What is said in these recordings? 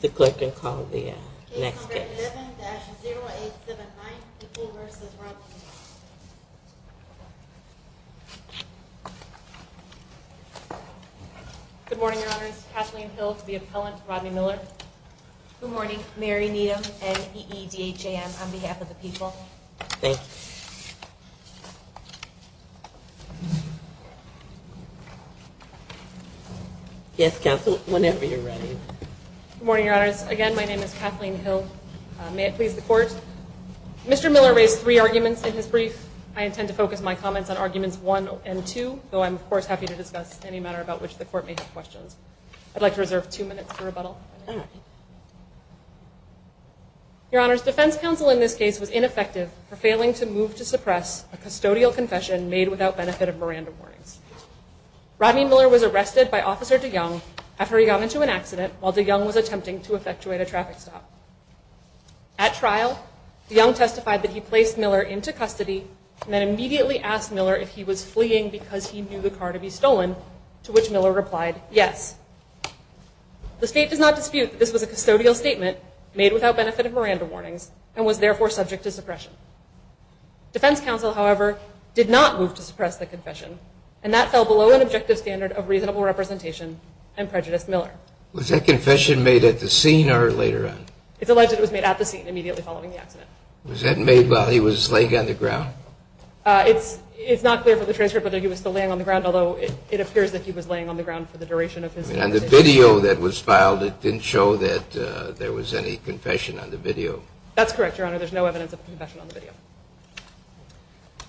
The clerk can call the next case. Good morning, Your Honors. Kathleen Hill to the appellant, Rodney Miller. Good morning. Mary Needham, N.E.E.D.H.A.M. on behalf of the people. Thank you. Yes, Kathleen, whenever you're ready. Good morning, Your Honors. Again, my name is Kathleen Hill. May it please the Court? Mr. Miller raised three arguments in his brief. I intend to focus my comments on arguments one and two, though I'm, of course, happy to discuss any matter about which the Court may have questions. Your Honors, defense counsel in this case was ineffective for failing to move to suppress a custodial confession made without benefit of Miranda warnings. Rodney Miller was arrested by Officer DeYoung after he got into an accident while DeYoung was attempting to effectuate a traffic stop. At trial, DeYoung testified that he placed Miller into custody and then immediately asked Miller if he was fleeing because he knew the car to be stolen, to which Miller replied yes. The State does not dispute that this was a custodial statement made without benefit of Miranda warnings and was therefore subject to suppression. Defense counsel, however, did not move to suppress the confession, and that fell below an objective standard of reasonable representation and prejudiced Miller. Was that confession made at the scene or later on? It's alleged it was made at the scene immediately following the accident. Was that made while he was laying on the ground? It's not clear from the transcript whether he was still laying on the ground, although it appears that he was laying on the ground for the duration of his statement. And the video that was filed, it didn't show that there was any confession on the video? That's correct, Your Honor. There's no evidence of a confession on the video.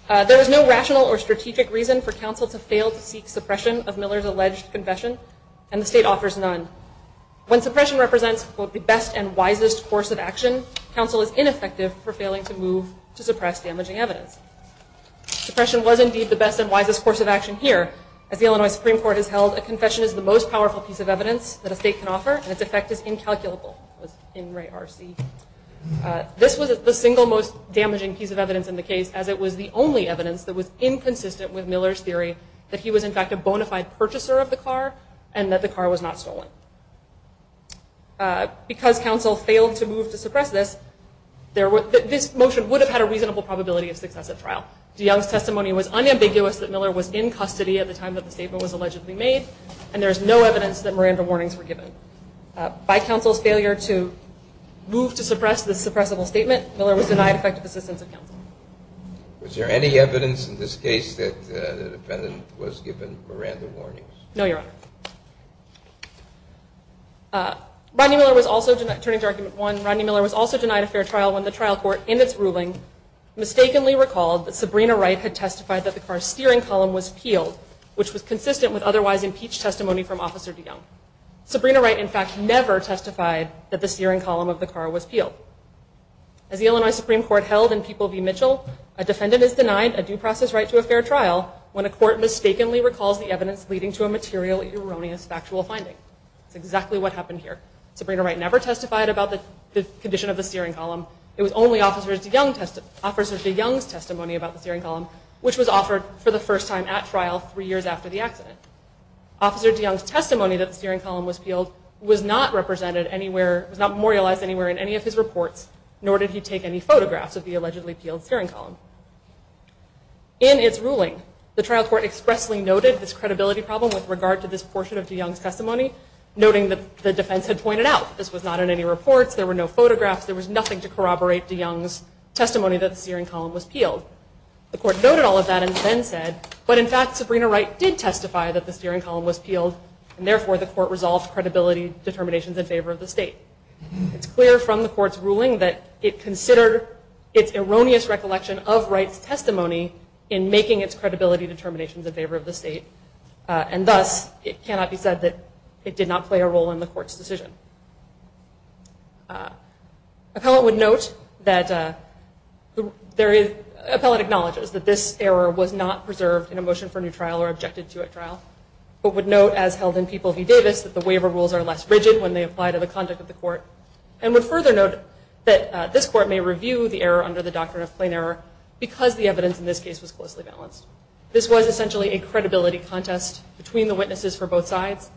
There was no rational or strategic reason for counsel to fail to seek suppression of Miller's alleged confession, and the State offers none. When suppression represents both the best and wisest course of action, counsel is ineffective for failing to move to suppress damaging evidence. Suppression was indeed the best and wisest course of action here. As the Illinois Supreme Court has held, a confession is the most powerful piece of evidence that a State can offer, and its effect is incalculable. This was the single most damaging piece of evidence in the case, as it was the only evidence that was inconsistent with Miller's theory that he was in fact a bona fide purchaser of the car and that the car was not stolen. Because counsel failed to move to suppress this, this motion would have had a reasonable probability of success at trial. DeYoung's testimony was unambiguous that Miller was in custody at the time that the statement was allegedly made, and there is no evidence that Miranda warnings were given. By counsel's failure to move to suppress this suppressible statement, Miller was denied effective assistance of counsel. Was there any evidence in this case that the defendant was given Miranda warnings? No, Your Honor. Rodney Miller was also denied a fair trial when the trial court, in its ruling, mistakenly recalled that Sabrina Wright had testified that the car's steering column was peeled, which was consistent with otherwise impeached testimony from Officer DeYoung. Sabrina Wright, in fact, never testified that the steering column of the car was peeled. As the Illinois Supreme Court held in People v. Mitchell, a defendant is denied a due process right to a fair trial when a court mistakenly recalls the evidence leading to a material injury. That's exactly what happened here. Sabrina Wright never testified about the condition of the steering column. It was only Officer DeYoung's testimony about the steering column, which was offered for the first time at trial three years after the accident. Officer DeYoung's testimony that the steering column was peeled was not represented anywhere, was not memorialized anywhere in any of his reports, nor did he take any photographs of the allegedly peeled steering column. In its ruling, the trial court expressly noted this credibility problem with regard to this portion of DeYoung's testimony, noting that the defense had pointed out this was not in any reports, there were no photographs, there was nothing to corroborate DeYoung's testimony that the steering column was peeled. The court noted all of that and then said, but in fact Sabrina Wright did testify that the steering column was peeled, and therefore the court resolved credibility determinations in favor of the state. It's clear from the court's ruling that it considered its erroneous recollection of Wright's testimony in making its credibility determinations in favor of the state, and thus it cannot be said that it did not play a role in the court's decision. Appellant would note that there is, Appellant acknowledges that this error was not preserved in a motion for new trial or objected to at trial, but would note, as held in People v. Davis, that the waiver rules are less rigid when they apply to the conduct of the court, and would further note that this court may review the error under the doctrine of plain error because the evidence in this case was closely balanced. This was essentially a credibility contest between the witnesses for both sides,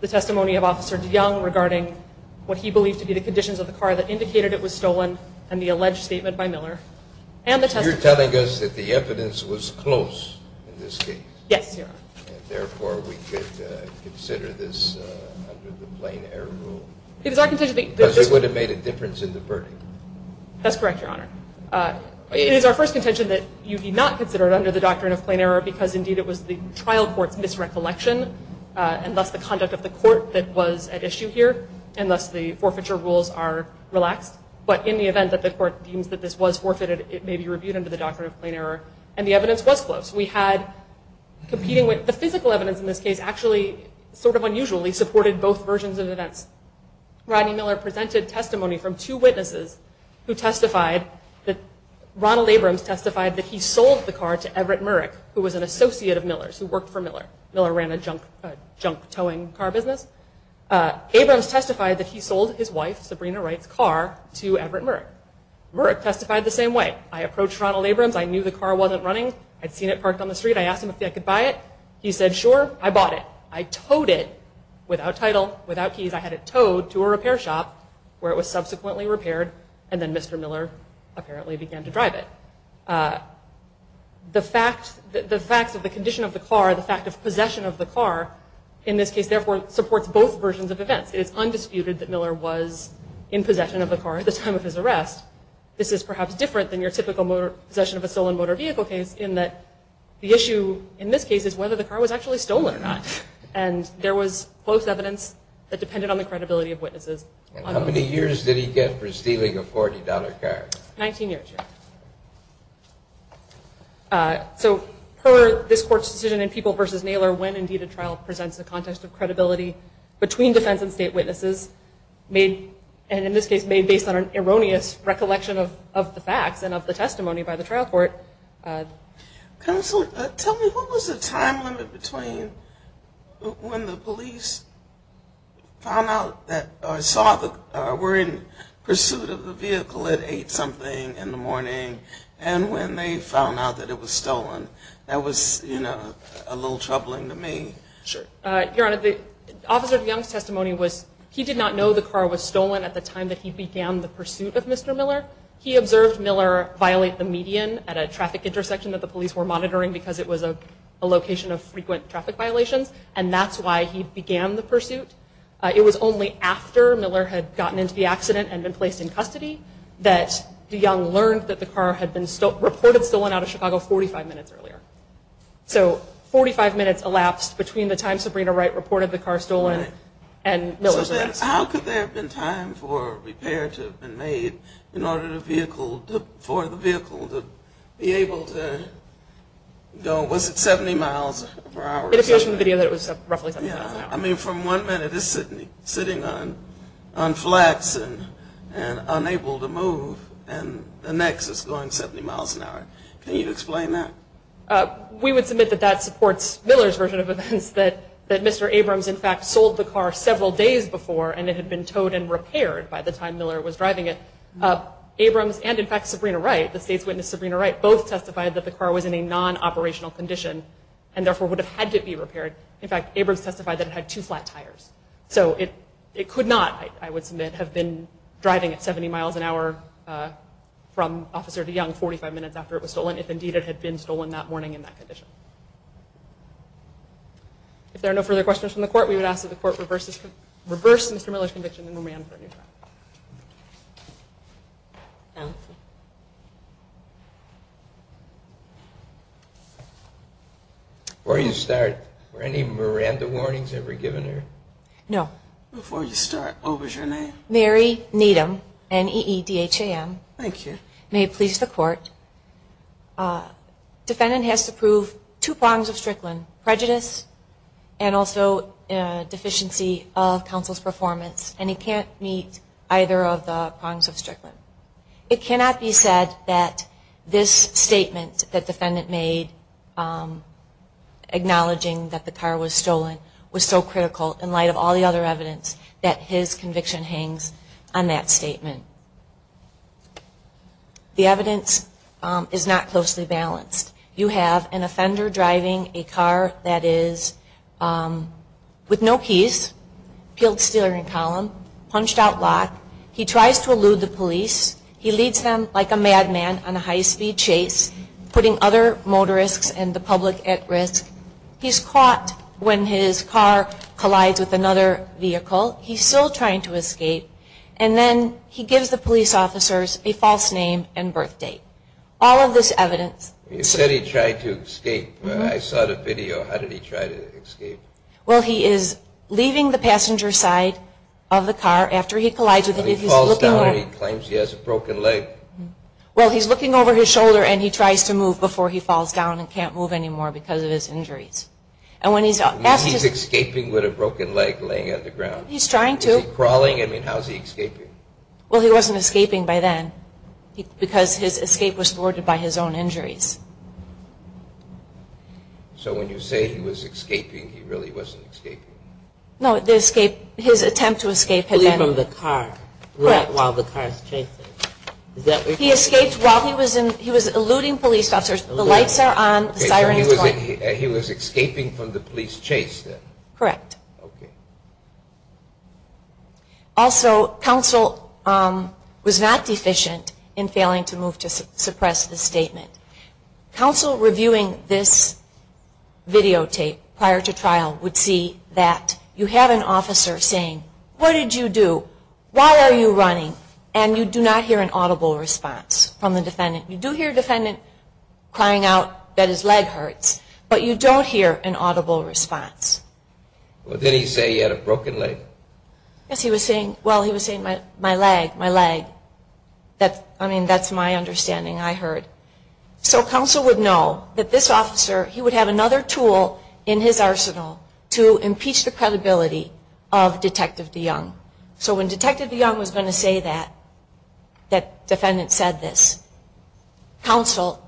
the testimony of Officer DeYoung regarding what he believed to be the conditions of the car that indicated it was stolen, and the alleged statement by Miller, and the testimony You're telling us that the evidence was close in this case? Yes, Your Honor. And therefore we could consider this under the plain error rule? Because it would have made a difference in the verdict. That's correct, Your Honor. It is our first contention that you need not consider it under the doctrine of plain error because, indeed, it was the trial court's misrecollection, and thus the conduct of the court that was at issue here, and thus the forfeiture rules are relaxed. But in the event that the court deems that this was forfeited, it may be reviewed under the doctrine of plain error, and the evidence was close. We had, competing with the physical evidence in this case, actually sort of unusually supported both versions of events. Rodney Miller presented testimony from two witnesses who testified that Ronald Abrams testified that he sold the car to Everett Murek, who was an associate of Miller's, who worked for Miller. Miller ran a junk towing car business. Abrams testified that he sold his wife, Sabrina Wright's car, to Everett Murek. Murek testified the same way. I approached Ronald Abrams. I knew the car wasn't running. I'd seen it parked on the street. I asked him if I could buy it. He said, sure. I bought it. I towed it without title, without keys. I had it towed to a repair shop, where it was subsequently repaired, and then Mr. Miller apparently began to drive it. The facts of the condition of the car, the fact of possession of the car, in this case, therefore, supports both versions of events. It is undisputed that Miller was in possession of the car at the time of his arrest. This is perhaps different than your typical possession of a stolen motor vehicle case, in that the issue, in this case, is whether the car was actually stolen or not. And there was both evidence that depended on the credibility of witnesses. And how many years did he get for stealing a $40 car? 19 years, Your Honor. So, per this Court's decision in People v. Naylor, when, indeed, a trial presents the context of credibility between defense and state witnesses, and, in this case, made based on an erroneous recollection of the facts and of the testimony by the trial court. Counsel, tell me, what was the time limit between when the police found out that or saw that we're in pursuit of the vehicle that ate something in the morning and when they found out that it was stolen? That was, you know, a little troubling to me. Sure. Your Honor, the officer of Young's testimony was he did not know the car was stolen at the time that he began the pursuit of Mr. Miller. He observed Miller violate the median at a traffic intersection that the police were monitoring because it was a location of frequent traffic violations, and that's why he began the pursuit. It was only after Miller had gotten into the accident and been placed in custody that Young learned that the car had been reported stolen out of Chicago 45 minutes earlier. So, 45 minutes elapsed between the time Sabrina Wright reported the car stolen and Miller's arrest. How could there have been time for a repair to have been made in order for the vehicle to be able to go? Was it 70 miles per hour? It appears from the video that it was roughly 70 miles an hour. I mean, from one minute it's sitting on flats and unable to move, and the next it's going 70 miles an hour. Can you explain that? We would submit that that supports Miller's version of events, that Mr. Abrams, in fact, sold the car several days before, and it had been towed and repaired by the time Miller was driving it. Abrams and, in fact, Sabrina Wright, the state's witness Sabrina Wright, both testified that the car was in a non-operational condition and therefore would have had to be repaired. In fact, Abrams testified that it had two flat tires. So it could not, I would submit, have been driving at 70 miles an hour from Officer Young 45 minutes after it was stolen if, indeed, it had been stolen that morning in that condition. If there are no further questions from the Court, we would ask that the Court reverse Mr. Miller's conviction and remand for a new trial. Before you start, were any Miranda warnings ever given here? No. Before you start, what was your name? Mary Needham, N-E-E-D-H-A-M. Thank you. May it please the Court, defendant has to prove two prongs of Strickland, prejudice and also deficiency of counsel's performance, and he can't meet either of the prongs of Strickland. It cannot be said that this statement that defendant made acknowledging that the car was stolen was so critical in light of all the other evidence that his conviction hangs on that statement. The evidence is not closely balanced. You have an offender driving a car that is with no keys, peeled steering column, punched out lock. He tries to elude the police. He leads them like a madman on a high-speed chase, putting other motorists and the public at risk. He's caught when his car collides with another vehicle. He's still trying to escape, and then he gives the police officers a false name and birth date. All of this evidence. You said he tried to escape. I saw the video. How did he try to escape? Well, he is leaving the passenger side of the car after he collides with it. He falls down and he claims he has a broken leg. Well, he's looking over his shoulder and he tries to move before he falls down and can't move anymore because of his injuries. He's escaping with a broken leg laying on the ground. He's trying to. Is he crawling? I mean, how is he escaping? Well, he wasn't escaping by then because his escape was thwarted by his own injuries. So when you say he was escaping, he really wasn't escaping. No, his attempt to escape had been... Fleeing from the car while the car is chasing. He escaped while he was eluding police officers. The lights are on, the siren is going. He was escaping from the police chase then. Correct. Also, counsel was not deficient in failing to move to suppress the statement. Counsel reviewing this videotape prior to trial would see that you have an officer saying, what did you do? Why are you running? And you do not hear an audible response from the defendant. You do hear a defendant crying out that his leg hurts, but you don't hear an audible response. Did he say he had a broken leg? Yes, he was saying, well, he was saying, my leg, my leg. I mean, that's my understanding I heard. So counsel would know that this officer, he would have another tool in his arsenal to impeach the credibility of Detective DeYoung. So when Detective DeYoung was going to say that, that defendant said this, counsel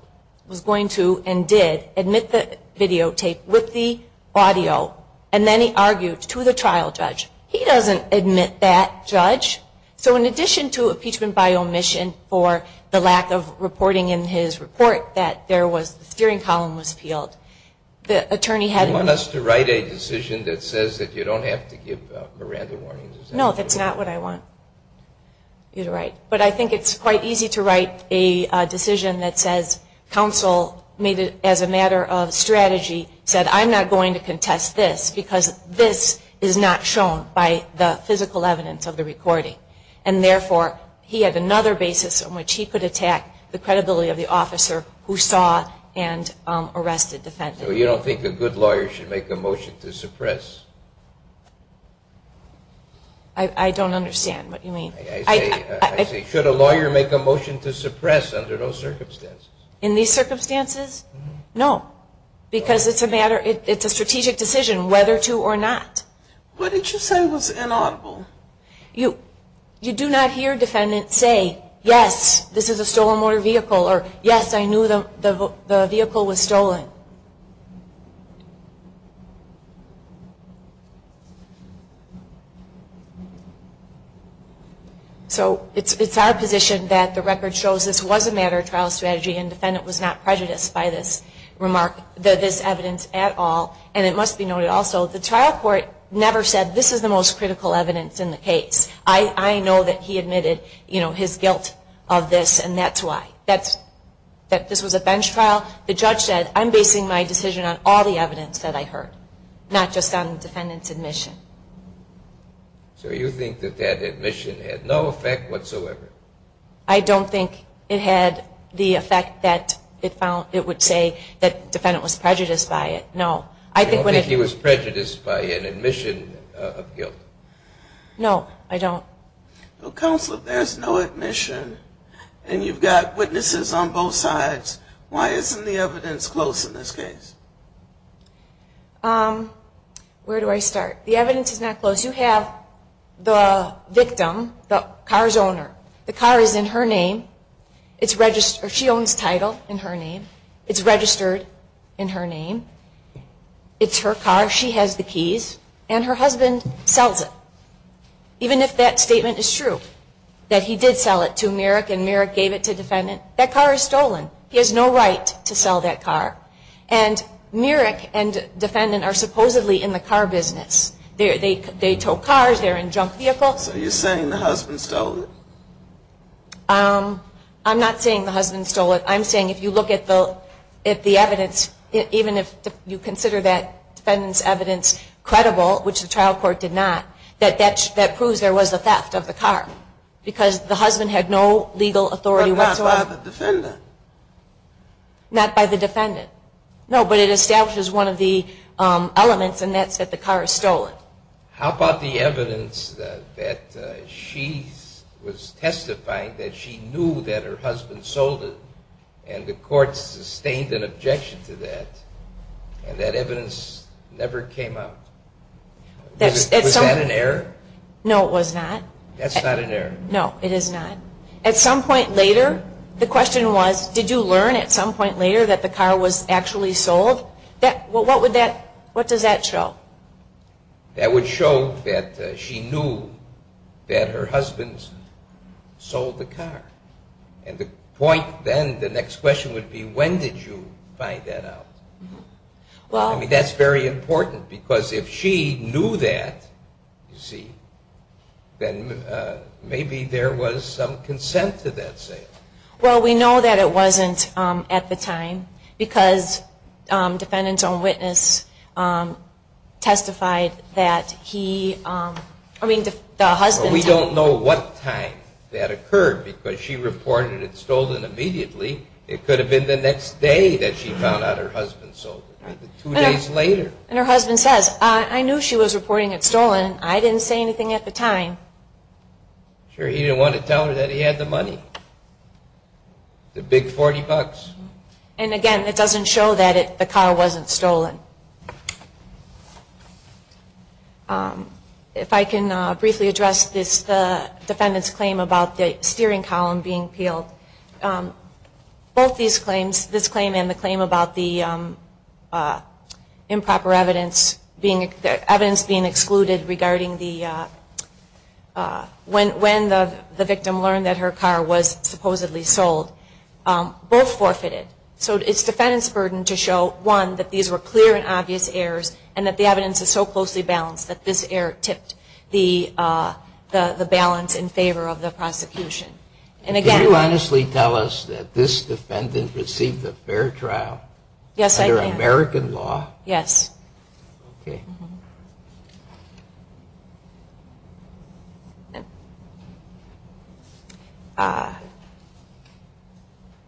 was going to and did admit the videotape with the audio, and then he argued to the trial judge. He doesn't admit that, judge. So in addition to impeachment by omission for the lack of reporting in his report that the steering column was peeled, the attorney had... Is that a decision that says that you don't have to give Miranda warnings? No, that's not what I want you to write. But I think it's quite easy to write a decision that says counsel made it as a matter of strategy, said I'm not going to contest this because this is not shown by the physical evidence of the recording. And therefore, he had another basis on which he could attack the credibility of the officer who saw and arrested the defendant. So you don't think a good lawyer should make a motion to suppress? I don't understand what you mean. I say should a lawyer make a motion to suppress under those circumstances? In these circumstances, no, because it's a matter, it's a strategic decision whether to or not. What did you say was inaudible? You do not hear defendants say, yes, this is a stolen motor vehicle, or yes, I knew the vehicle was stolen. So it's our position that the record shows this was a matter of trial strategy and the defendant was not prejudiced by this remark, this evidence at all. And it must be noted also the trial court never said this is the most critical evidence in the case. I know that he admitted, you know, his guilt of this and that's why. That this was a bench trial. The judge said I'm basing my decision on all the evidence that I heard, not just on the defendant's admission. So you think that that admission had no effect whatsoever? I don't think it had the effect that it would say that the defendant was prejudiced by it, no. I don't think he was prejudiced by an admission of guilt. No, I don't. Counsel, if there's no admission and you've got witnesses on both sides, why isn't the evidence close in this case? Where do I start? The evidence is not close. You have the victim, the car's owner. The car is in her name. It's registered. She owns title in her name. It's registered in her name. It's her car. She has the keys. And her husband sells it. Even if that statement is true, that he did sell it to Merrick and Merrick gave it to defendant, that car is stolen. He has no right to sell that car. And Merrick and defendant are supposedly in the car business. They tow cars. They're in junk vehicles. So you're saying the husband stole it? I'm not saying the husband stole it. I'm saying if you look at the evidence, even if you consider that defendant's evidence credible, which the trial court did not, that that proves there was a theft of the car. Because the husband had no legal authority whatsoever. But not by the defendant. Not by the defendant. No, but it establishes one of the elements, and that's that the car is stolen. Well, how about the evidence that she was testifying that she knew that her husband sold it and the court sustained an objection to that, and that evidence never came out? Was that an error? No, it was not. That's not an error? No, it is not. At some point later, the question was, did you learn at some point later that the car was actually sold? What does that show? That would show that she knew that her husband sold the car. And the point then, the next question would be, when did you find that out? I mean, that's very important, because if she knew that, you see, then maybe there was some consent to that sale. Well, we know that it wasn't at the time, because defendants on witness testified that he, I mean, the husband. Well, we don't know what time that occurred, because she reported it stolen immediately. It could have been the next day that she found out her husband sold it, maybe two days later. And her husband says, I knew she was reporting it stolen. I didn't say anything at the time. Sure, he didn't want to tell her that he had the money, the big 40 bucks. And again, it doesn't show that the car wasn't stolen. If I can briefly address this defendant's claim about the steering column being peeled. Both these claims, this claim and the claim about the improper evidence, the evidence being excluded regarding the, when the victim learned that her car was supposedly sold, both forfeited. So it's the defendant's burden to show, one, that these were clear and obvious errors, and that the evidence is so closely balanced that this error tipped the balance in favor of the prosecution. Can you honestly tell us that this defendant received a fair trial under American law? Yes.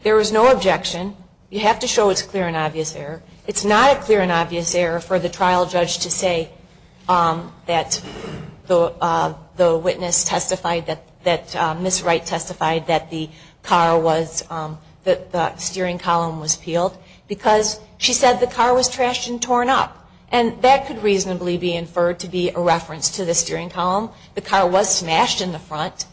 There was no objection. You have to show it's a clear and obvious error. It's not a clear and obvious error for the trial judge to say that the witness testified, that Ms. Wright testified that the car was, that the steering column was peeled, because she said the car was trashed and torn up. And that could reasonably be inferred to be a reference to the steering column. The car was smashed in the front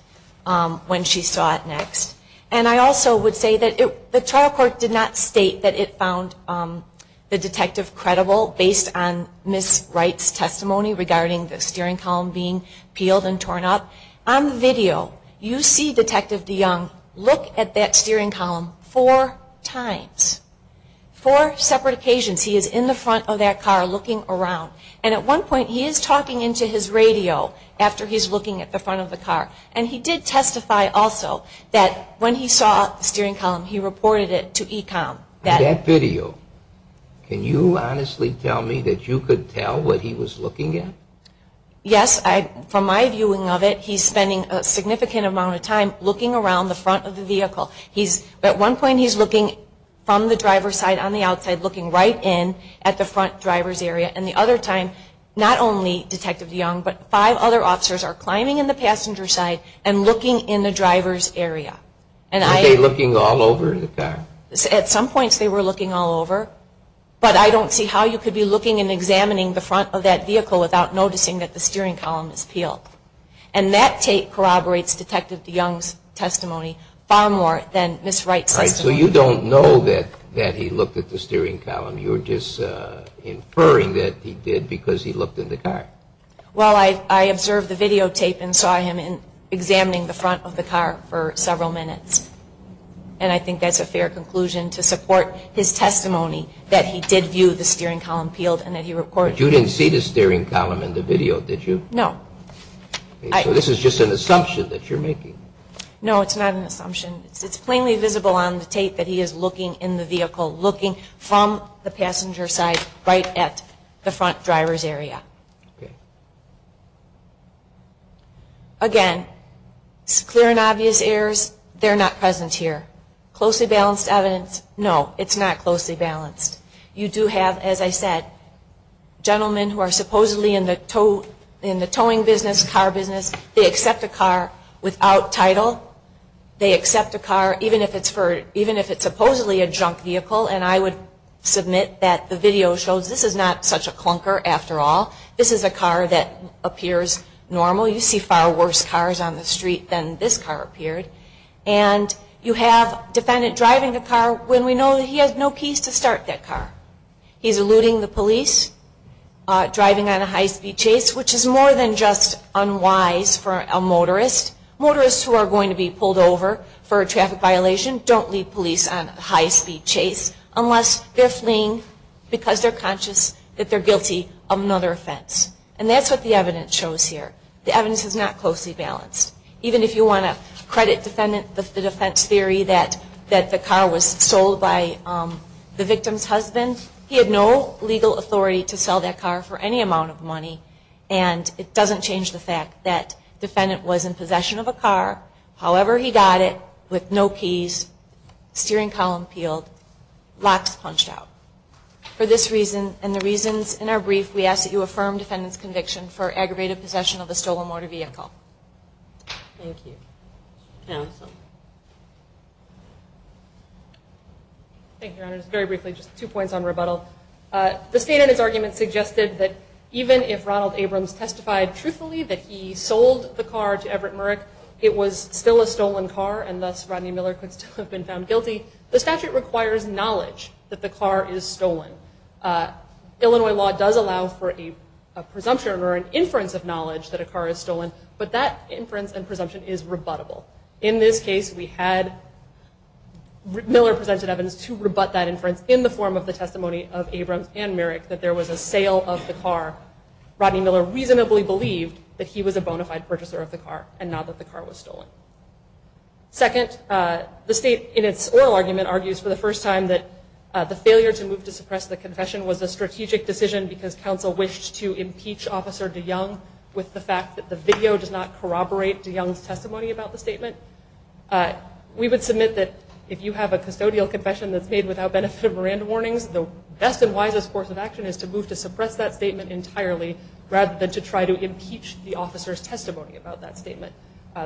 when she saw it next. And I also would say that the trial court did not state that it found the detective credible based on Ms. Wright's testimony regarding the steering column being peeled and torn up. On the video, you see Detective DeYoung look at that steering column four times. Four separate occasions he is in the front of that car looking around. And at one point he is talking into his radio after he's looking at the front of the car. And he did testify also that when he saw the steering column, he reported it to ECOM. That video, can you honestly tell me that you could tell what he was looking at? Yes, from my viewing of it, he's spending a significant amount of time looking around the front of the vehicle. He's, at one point he's looking from the driver's side on the outside, looking right in at the front driver's area. And the other time, not only Detective DeYoung, but five other officers are climbing in the passenger side and looking in the driver's area. Were they looking all over the car? At some points they were looking all over. But I don't see how you could be looking and examining the front of that vehicle without noticing that the steering column is peeled. And that tape corroborates Detective DeYoung's testimony far more than Ms. Wright's testimony. All right, so you don't know that he looked at the steering column. You're just inferring that he did because he looked in the car. Well, I observed the videotape and saw him examining the front of the car for several minutes. And I think that's a fair conclusion to support his testimony that he did view the steering column peeled and that he recorded it. But you didn't see the steering column in the video, did you? No. So this is just an assumption that you're making. No, it's not an assumption. It's plainly visible on the tape that he is looking in the vehicle, looking from the passenger side right at the front driver's area. Okay. Again, it's clear and obvious errors. They're not present here. Closely balanced evidence? No, it's not closely balanced. You do have, as I said, gentlemen who are supposedly in the towing business, car business. They accept a car without title. They accept a car even if it's supposedly a junk vehicle. And I would submit that the video shows this is not such a clunker after all. This is a car that appears normal. You see far worse cars on the street than this car appeared. And you have a defendant driving the car when we know that he has no keys to start that car. He's eluding the police, driving on a high-speed chase, which is more than just unwise for a motorist. Motorists who are going to be pulled over for a traffic violation don't lead police on a high-speed chase unless they're fleeing because they're conscious that they're guilty of another offense. And that's what the evidence shows here. The evidence is not closely balanced. Even if you want to credit defendant the defense theory that the car was sold by the victim's husband, he had no legal authority to sell that car for any amount of money. And it doesn't change the fact that defendant was in possession of a car, however he got it, with no keys, steering column peeled, locks punched out. For this reason and the reasons in our brief, we ask that you affirm defendant's conviction for aggravated possession of a stolen motor vehicle. Thank you. Counsel. Thank you, Your Honor. Just very briefly, just two points on rebuttal. The state in its argument suggested that even if Ronald Abrams testified truthfully that he sold the car to Everett Murek, it was still a stolen car and thus Rodney Miller could still have been found guilty. The statute requires knowledge that the car is stolen. Illinois law does allow for a presumption or an inference of knowledge that a car is stolen, but that inference and presumption is rebuttable. In this case, we had Miller presented evidence to rebut that inference in the form of the testimony of Abrams and Murek that there was a sale of the car. Rodney Miller reasonably believed that he was a bona fide purchaser of the car and not that the car was stolen. Second, the state in its oral argument argues for the first time that the failure to move to suppress the confession was a strategic decision because counsel wished to impeach Officer DeYoung with the fact that the video does not corroborate DeYoung's testimony about the statement. We would submit that if you have a custodial confession that's made without benefit of Miranda warnings, the best and wisest course of action is to move to suppress that statement entirely rather than to try to impeach the officer's testimony about that statement.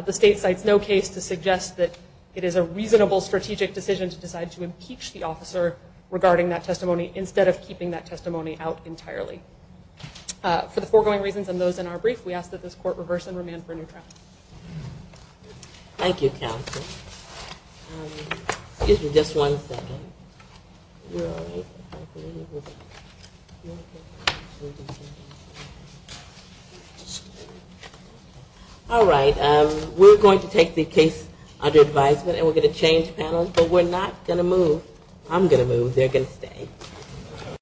The state cites no case to suggest that it is a reasonable strategic decision to decide to impeach the officer regarding that testimony instead of keeping that testimony out entirely. For the foregoing reasons and those in our brief, we ask that this court reverse and remand for a new trial. Thank you, counsel. All right. We're going to take the case under advisement and we're going to change panels, but we're not going to move. I'm going to move. They're going to stay.